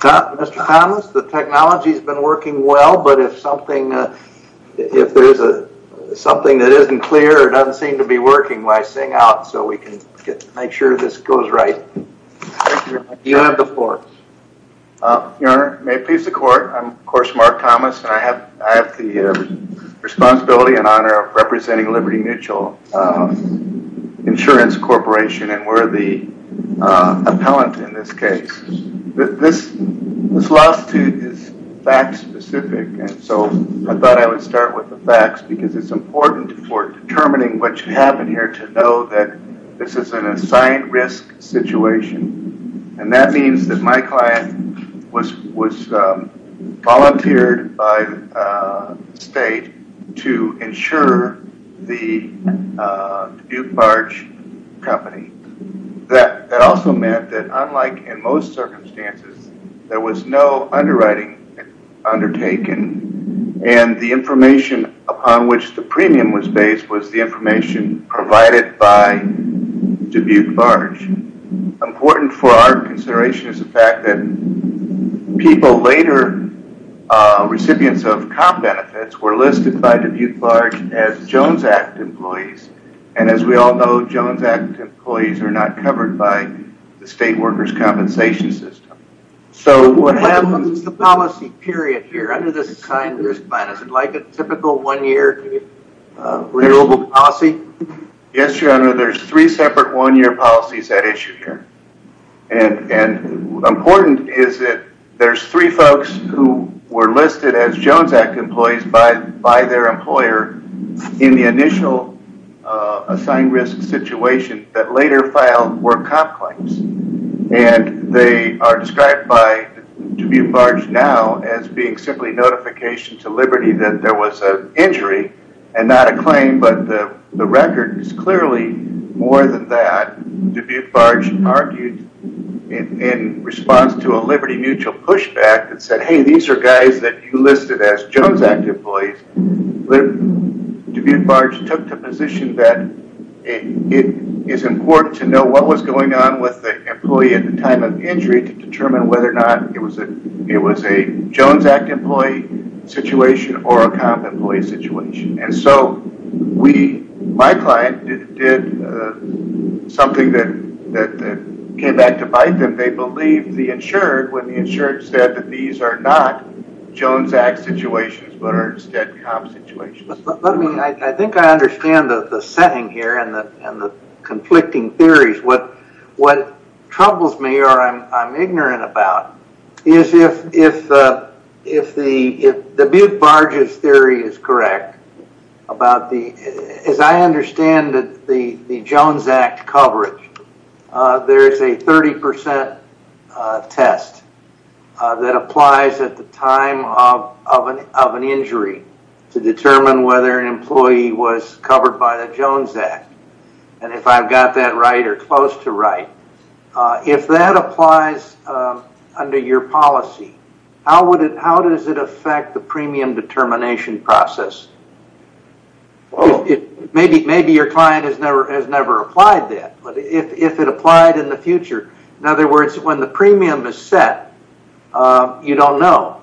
Mr. Thomas, the technology has been working well, but if something that isn't clear or doesn't seem to be working, why sing out so we can make sure this goes right? You have the floor. Your Honor, may it please the Court, I'm of course Mark Thomas and I have the responsibility and honor of representing Liberty Mutual Insurance Corporation and we're the solicitude is fact specific and so I thought I would start with the facts because it's important for determining what you have in here to know that this is an assigned risk situation and that means that my client was volunteered by the state to insure the Dubuque Barge Company. That also meant that unlike in most circumstances, there was no underwriting undertaken and the information upon which the premium was based was the information provided by Dubuque Barge. Important for our consideration is the fact that people later, recipients of employees are not covered by the state workers compensation system. So what happens to the policy period here under the assigned risk plan? Is it like a typical one year renewable policy? Yes, Your Honor, there's three separate one-year policies at issue here and important is that there's three folks who were listed as Jones Act employees by their employer in the initial assigned risk situation that later filed for comp claims and they are described by Dubuque Barge now as being simply notification to Liberty that there was an injury and not a claim but the record is clearly more than that. Dubuque Barge argued in response to a Liberty Mutual pushback that said, hey, these are guys that you listed as Jones Act employees. Dubuque Barge took the position that it is important to know what was going on with the employee at the time of injury to determine whether or not it was a Jones Act employee situation or a comp employee situation. And so my client did something that came back to bite and they believed the insured when the insured said that these are not Jones Act situations but are instead comp situations. Let me, I think I understand the setting here and the conflicting theories. What troubles me or I'm ignorant about is if the Dubuque Barge's theory is correct about the, as I understand that the Jones Act coverage, there is a 30% test that applies at the time of an injury to determine whether an employee was covered by the Jones Act. And if I've got that right or close to right, if that applies under your policy, how would it, how does it affect the premium determination process? Maybe your client has never applied that, but if it applied in the future, in other words, when the premium is set, you don't know.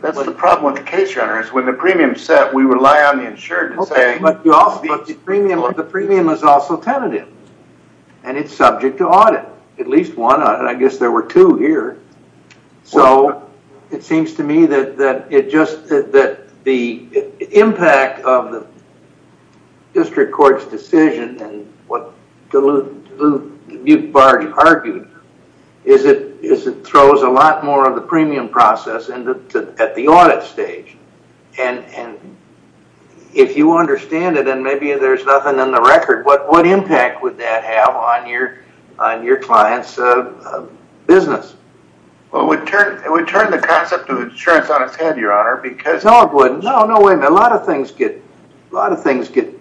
That's the problem with the case, your honor, is when the premium is set, we rely on the insured. The premium is also tentative and it's subject to audit, at least one. I guess there were two here. So it seems to me that the impact of the district court's decision and what Dubuque Barge argued is it throws a lot more of the premium process at the audit stage. And if you understand it, and maybe there's nothing in the record, what impact would that have on your client's business? Well, it would turn the concept of insurance on its head, your honor, because... No, it wouldn't. No, no way. A lot of things get, a lot of things get,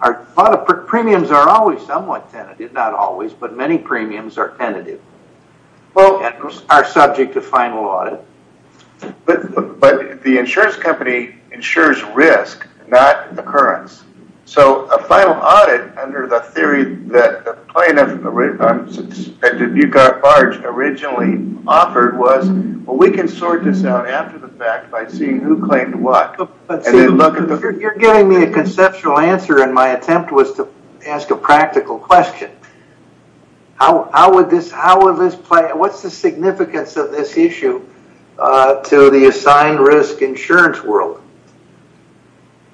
a lot of premiums are always somewhat tentative, not always, but many premiums are tentative. Well... And are subject to final audit. But the insurance company insures risk, not occurrence. So a final audit under the theory that the plaintiff and Dubuque Barge originally offered was, well, we can sort this out after the fact by seeing who claimed what. You're giving me a conceptual answer and my attempt was to ask a practical question. How would this play, what's the significance of this issue to the assigned risk insurance world?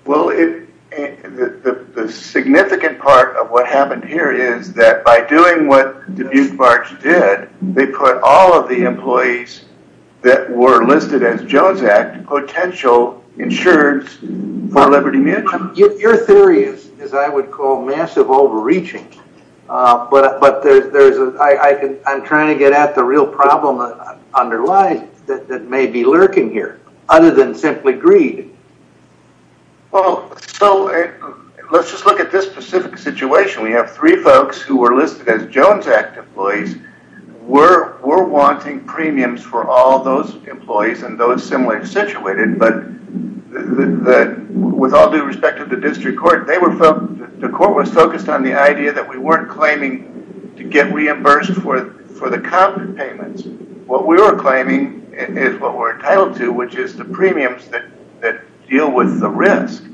Well, the significant part of what happened here is that by doing what Dubuque Barge did, they put all of the employees that were listed as Joe's Act potential insured for Liberty Mutual. Your theory is, as I would call, massive overreaching. But I'm trying to get at the Well, so let's just look at this specific situation. We have three folks who were listed as Jones Act employees. We're wanting premiums for all those employees and those similar situated, but with all due respect to the district court, the court was focused on the idea that we weren't claiming to get reimbursed for the comp payments. What we were claiming is what we're entitled to, which is the premiums that deal with the risk.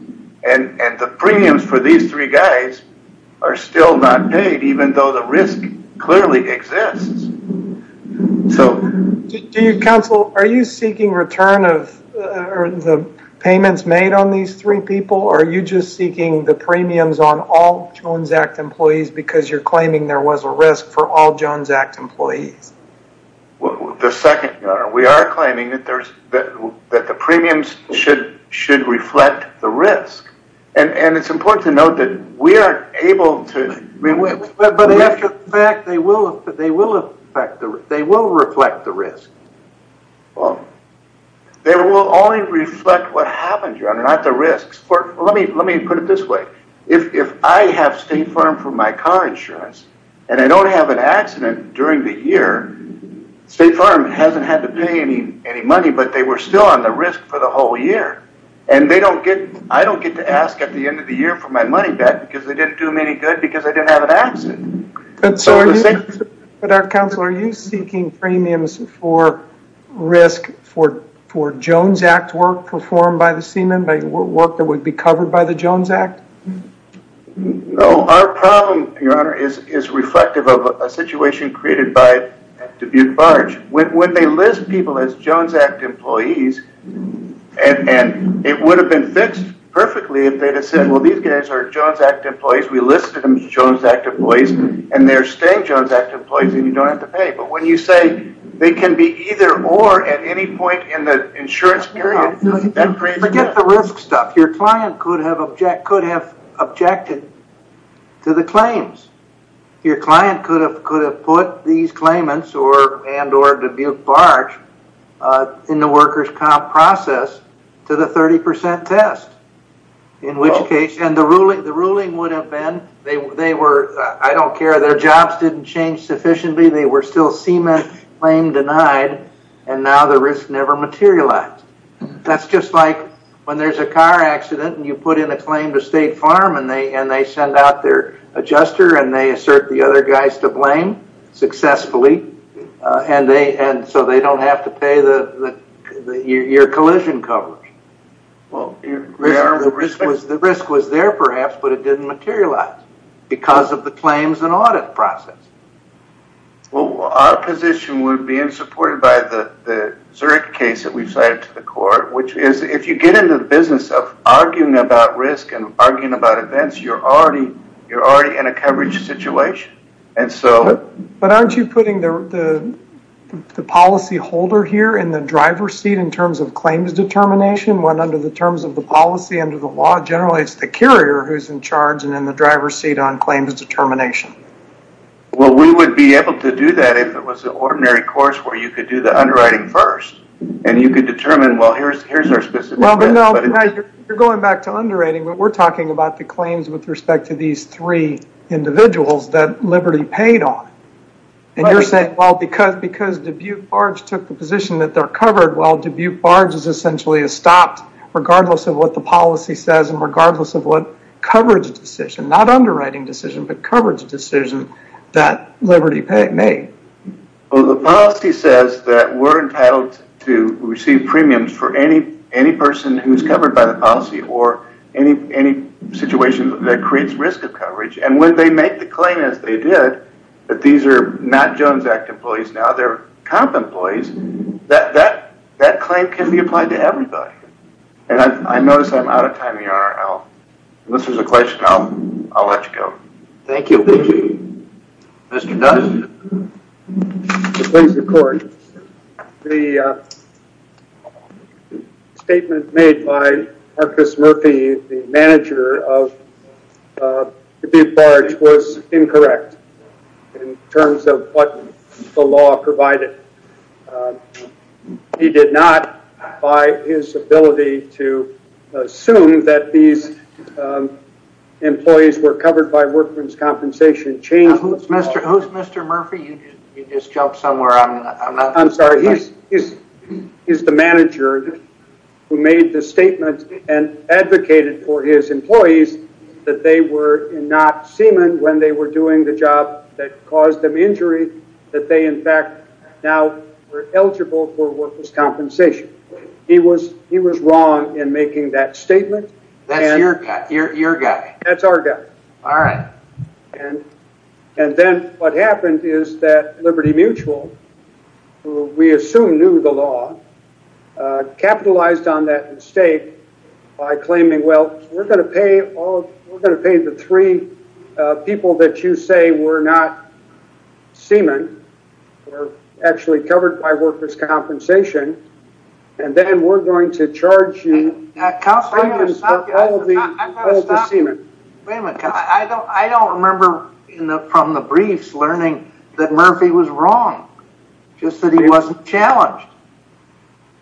The premiums for these three guys are still not paid, even though the risk clearly exists. Counsel, are you seeking return of the payments made on these three people or are you just seeking the premiums on all Jones Act employees because you're claiming there was a risk for all Jones that the premiums should reflect the risk? And it's important to note that we are able to But after the fact, they will reflect the risk. They will only reflect what happened, John, not the risks. Let me put it this way. If I have State Farm for my car insurance and I don't have an accident during the year, State Farm hasn't had to pay any money, but they were still on the risk for the whole year. And I don't get to ask at the end of the year for my money back because they didn't do me any good because I didn't have an accident. But Counsel, are you seeking premiums for risk for Jones Act work performed by the seaman, by work that would be covered by the Jones Act? No, our problem, Your Honor, is reflective of a situation created by Dubuque Barge. When they list people as Jones Act employees and it would have been fixed perfectly if they had said, well, these guys are Jones Act employees. We listed them as Jones Act employees and they're staying Jones Act employees and you don't have to pay. But when you say they can be either or at any point in the insurance period, that brings Forget the risk stuff. Your client could have objected to the claims. Your client could have put these claimants and or Dubuque Barge in the workers' comp process to the 30% test, in which case, and the ruling would have been, I don't care, their jobs didn't change sufficiently, they were still seaman claim denied, and now the risk never materialized. That's just like when there's a car accident and you put in a claim to State Farm and they send out their guys to blame, successfully, and so they don't have to pay your collision coverage. The risk was there, perhaps, but it didn't materialize because of the claims and audit process. Well, our position would be, and supported by the Zurich case that we've cited to the court, which is if you get into the business of arguing about risk and arguing about coverage situation. But aren't you putting the policy holder here in the driver's seat in terms of claims determination when under the terms of the policy under the law, generally, it's the carrier who's in charge and in the driver's seat on claims determination. Well, we would be able to do that if it was an ordinary course where you could do the underwriting first and you could determine, well, here's our specific plan. You're going back to underwriting, but we're talking about the claims with respect to these three individuals that Liberty paid on. And you're saying, well, because Dubuque Barge took the position that they're covered, well, Dubuque Barge is essentially stopped regardless of what the policy says and regardless of what coverage decision, not underwriting decision, but coverage decision that Liberty made. Well, the policy says that we're entitled to receive premiums for any person who's covered by the policy or any situation that creates risk of coverage. And when they make the claim as they did, that these are not Jones Act employees now, they're comp employees, that claim can be applied to everybody. And I notice I'm out of time here. Unless there's a question, I'll let you go. Thank you. Thank you. Mr. Knudson. To please the court, the statement made by Marcus Murphy, the manager of Dubuque Barge was incorrect in terms of what the law provided. He did not, by his ability to assume that these employees were covered by workman's compensation change. Who's Mr. Murphy? You just jumped somewhere. I'm sorry. He's the manager who made the statement and advocated for his employees that they were not semen when they were doing the job that caused them injury, that they in fact now were eligible for workman's compensation. He was wrong in making that statement. That's your guy. That's our guy. All right. And then what happened is that Liberty Mutual, who we assume knew the law, capitalized on that mistake by claiming, well, we're going to pay the three people that you say were not semen, were actually covered by workman's compensation, and then we're going to charge you. Wait a minute. I don't remember from the briefs learning that Murphy was wrong, just that he wasn't challenged.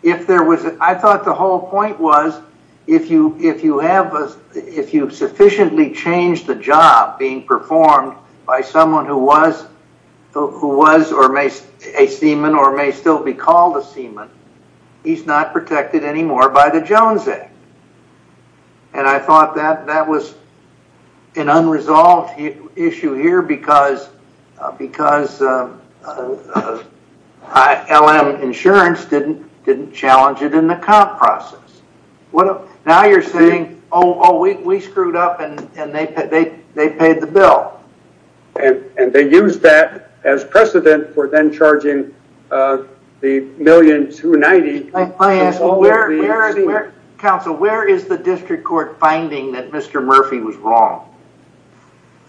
I thought the whole point was if you sufficiently changed the job being performed by someone who was a semen or may still be called a semen, he's not protected anymore by the Jones Act. And I thought that was an unresolved issue here because LM Insurance didn't challenge it in the comp process. Now you're saying, oh, we screwed up and they paid the bill. And they used that as precedent for then charging the $1,290,000. Counsel, where is the district court finding that Mr. Murphy was wrong?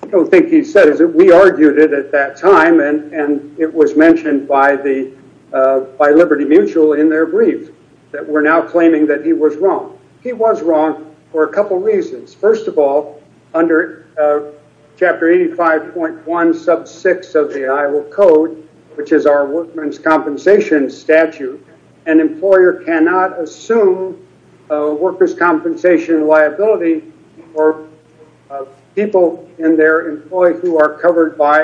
I don't think he said it. We argued it at that time, and it was mentioned by Liberty Mutual in their brief that we're now claiming that he was wrong. He was wrong for a couple reasons. First of all, under Chapter 85.1 sub 6 of the Iowa Code, which is our workman's compensation statute, an employer cannot assume a worker's compensation liability for people in their employ who are covered by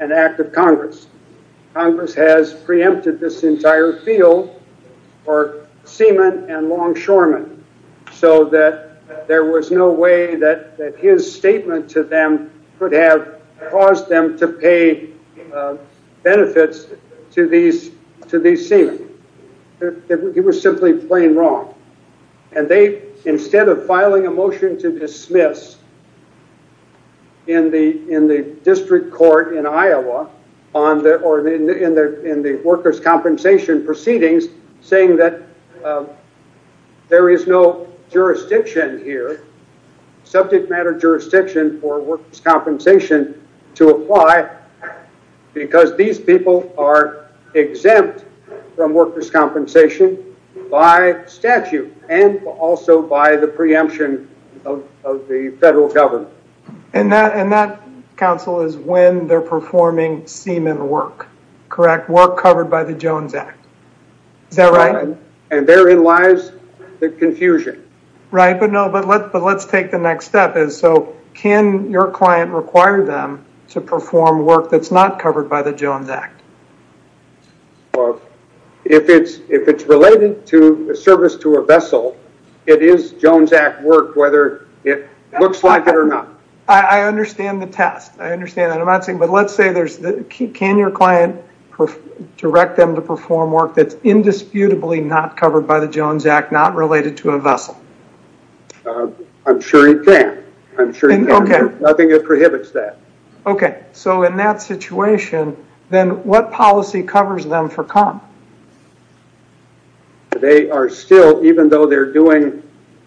an act of Congress. Congress has preempted this entire field for semen and long that his statement to them could have caused them to pay benefits to these semen. He was simply plain wrong. And they, instead of filing a motion to dismiss in the district court in Iowa, or in the worker's compensation proceedings, saying that there is no jurisdiction here, subject matter jurisdiction for worker's compensation to apply, because these people are exempt from worker's compensation by statute, and also by the preemption of the federal government. And that, counsel, is when they're performing semen work. Correct? Work covered by the Jones Act. Is that right? And therein lies the confusion. Right. But no, but let's take the next step. So can your client require them to perform work that's not covered by the Jones Act? If it's related to service to a vessel, it is Jones Act work, whether it looks like it or not. I understand the test. I understand that. But let's say there's, can your client direct them to perform work that's indisputably not covered by the Jones Act, not related to a vessel? I'm sure he can. I'm sure he can. Nothing prohibits that. Okay. So in that situation, then what policy covers them for com? Well, they are still, even though they're doing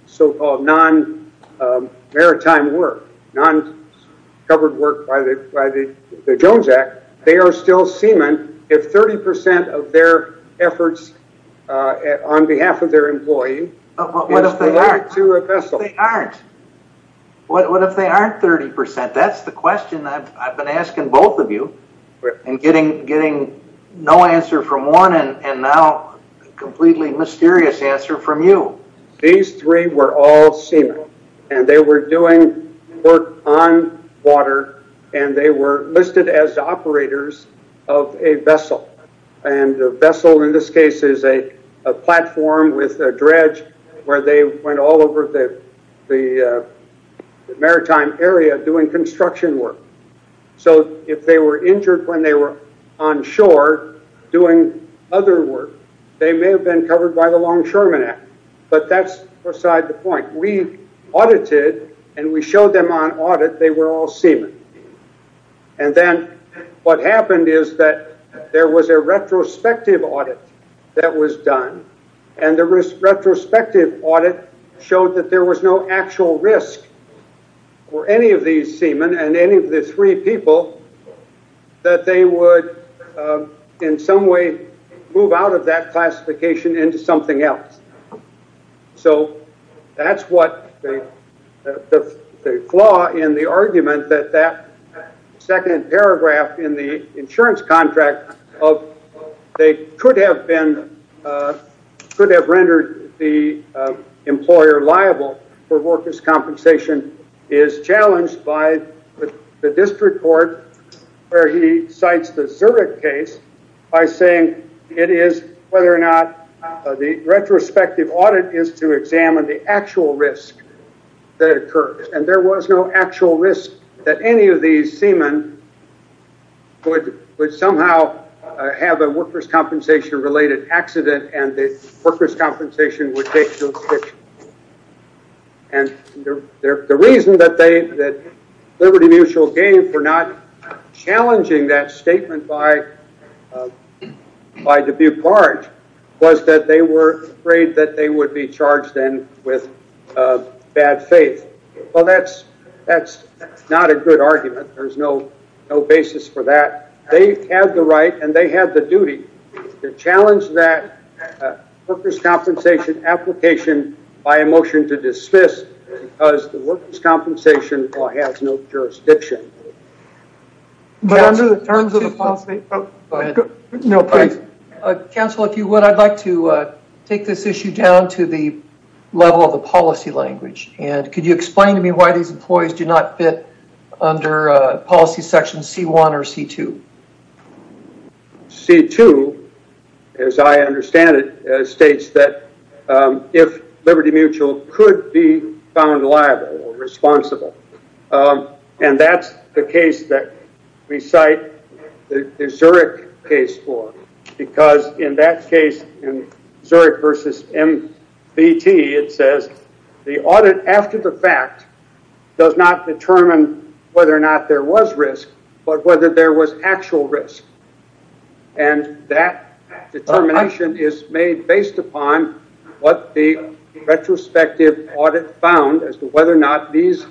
so-called non-maritime work, non-covered work by the Jones Act, they are still semen if 30% of their efforts on behalf of their employee is related to a vessel. What if they aren't? What if they aren't 30%? That's the question I've and now completely mysterious answer from you. These three were all semen and they were doing work on water and they were listed as the operators of a vessel. And a vessel in this case is a platform with a dredge where they went all over the maritime area doing construction work. So if they were injured when they were on shore doing other work, they may have been covered by the Longshoremen Act, but that's beside the point. We audited and we showed them on audit, they were all semen. And then what happened is that there was a retrospective audit that was done. And the retrospective audit showed that there was no actual risk for any of these semen and any of the three people that they would in some way move out of that classification into something else. So that's what the flaw in the argument that that second paragraph in the insurance contract of they could have rendered the employer liable for workers' compensation is challenged by the district court where he cites the Zurich case by saying it is whether or not the retrospective audit is to examine the actual risk that occurred. And there was no actual risk that any of these semen would somehow have a workers' compensation-related accident and the workers' compensation would take those pictures. And the reason that Liberty Mutual gave for not challenging that statement by Dubuque-Large was that they were afraid that they would be charged then with bad faith. Well, that's not a good argument. There's no basis for that. They have the right and they challenge that workers' compensation application by a motion to dismiss because the workers' compensation has no jurisdiction. But under the terms of the policy... Council, if you would, I'd like to take this issue down to the level of the policy language. And could you explain to me why these employees do not fit under policy section C1 or C2? C2, as I understand it, states that if Liberty Mutual could be found liable or responsible. And that's the case that we cite the Zurich case for. Because in that case, in Zurich versus MBT, it says the audit after the fact does not determine whether or not there was risk, but whether there was actual risk. And that determination is made based upon what the retrospective audit found as to whether or not these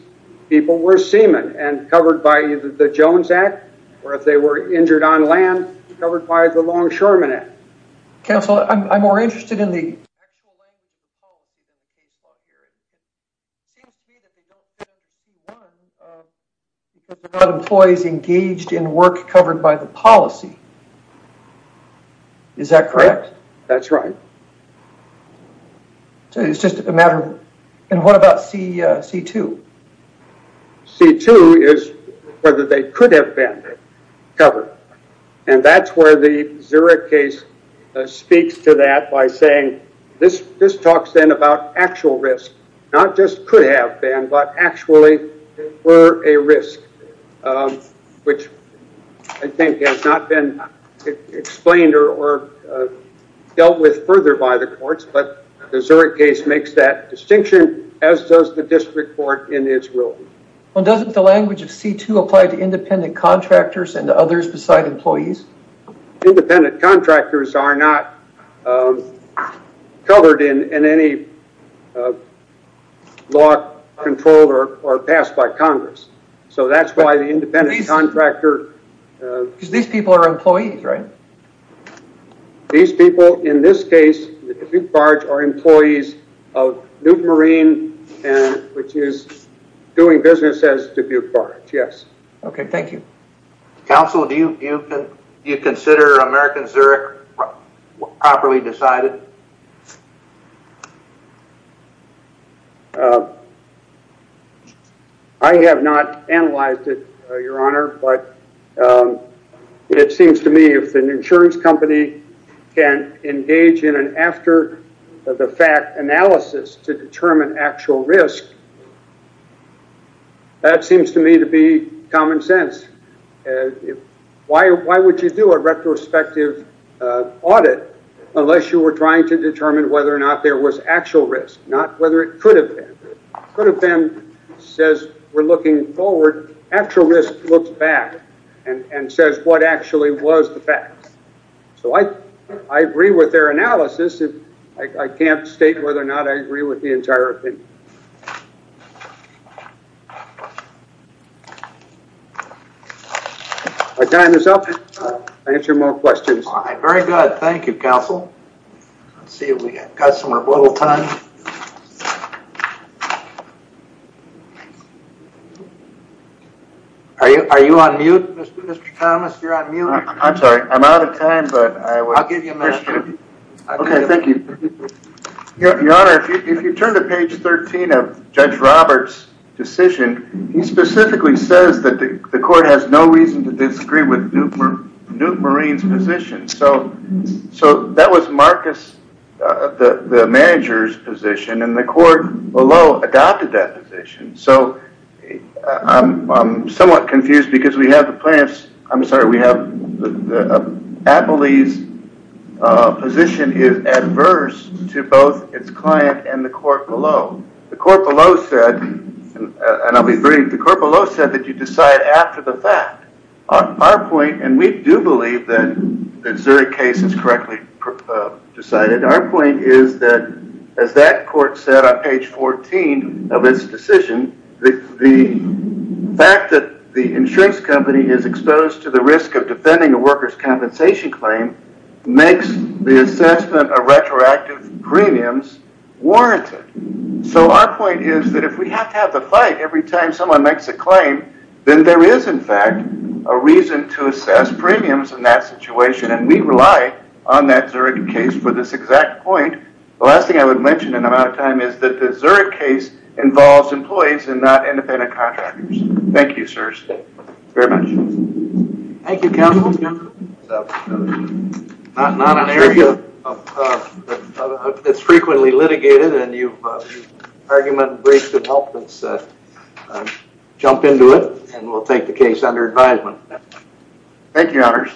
people were semen and covered by the Jones Act, or if they were injured on land, covered by the Longshoremen Act. Council, I'm more interested in the actual language of the policy in the case law here. It seems to me that they don't fit under C1 because they're not employees engaged in work covered by the policy. Is that correct? That's right. It's just a matter of... And what about C2? C2 is whether they could have been covered. And that's where the Zurich case speaks to that by saying this talks then about actual risk, not just could have been, but actually were a risk, which I think has not been explained or dealt with further by the courts. But the Zurich case makes that distinction, as does the district court in Israel. Well, doesn't the language of C2 apply to employees? Independent contractors are not covered in any law controlled or passed by Congress. So that's why the independent contractor... Because these people are employees, right? These people, in this case, the Dubuque Barge, are employees of Newt Marine, which is doing business as Dubuque Barge, yes. Okay. Thank you. Counsel, do you consider American Zurich properly decided? I have not analyzed it, Your Honor, but it seems to me if an insurance company can engage in an after the fact analysis to determine actual risk, that seems to me to be common sense. Why would you do a retrospective audit unless you were trying to determine whether or not there was actual risk, not whether it could have been. Could have been says we're looking forward, actual risk looks back and says what actually was the facts. So I agree with their analysis. I can't state whether or not I agree with the analysis. My time is up. I'll answer more questions. Very good. Thank you, Counsel. Let's see if we got some more little time. Are you on mute, Mr. Thomas? You're on mute. I'm sorry. I'm out of time, but I will... I'll give you a minute. Okay. Thank you. Your Honor, if you turn to page 13 of Judge Robert's decision, he specifically says that the court has no reason to disagree with Newt Marine's position. So that was Marcus, the manager's position, and the court below adopted that position. So I'm somewhat confused because we have the plaintiff's... I'm sorry, we have the appellee's position is adverse to both its client and the court below. The court below said, and I'll be brief, the court below said that you decide after the fact. Our point, and we do believe that Zurich case is correctly decided, our point is that as that court said on page 14 of its decision, the fact that the insurance company is exposed to the risk of defending a worker's compensation claim makes the assessment of retroactive premiums warranted. So our point is that if we have to have the fight every time someone makes a claim, then there is in fact a reason to assess premiums in that situation, and we rely on that Zurich case for this exact point. The last thing I would mention in the amount of time is that the Zurich case involves employees and not independent contractors. Thank you, sirs. Thank you very much. Thank you, counsel. It's frequently litigated, and your argument greatly helped us jump into it, and we'll take the case under advisement. Thank you, your honors.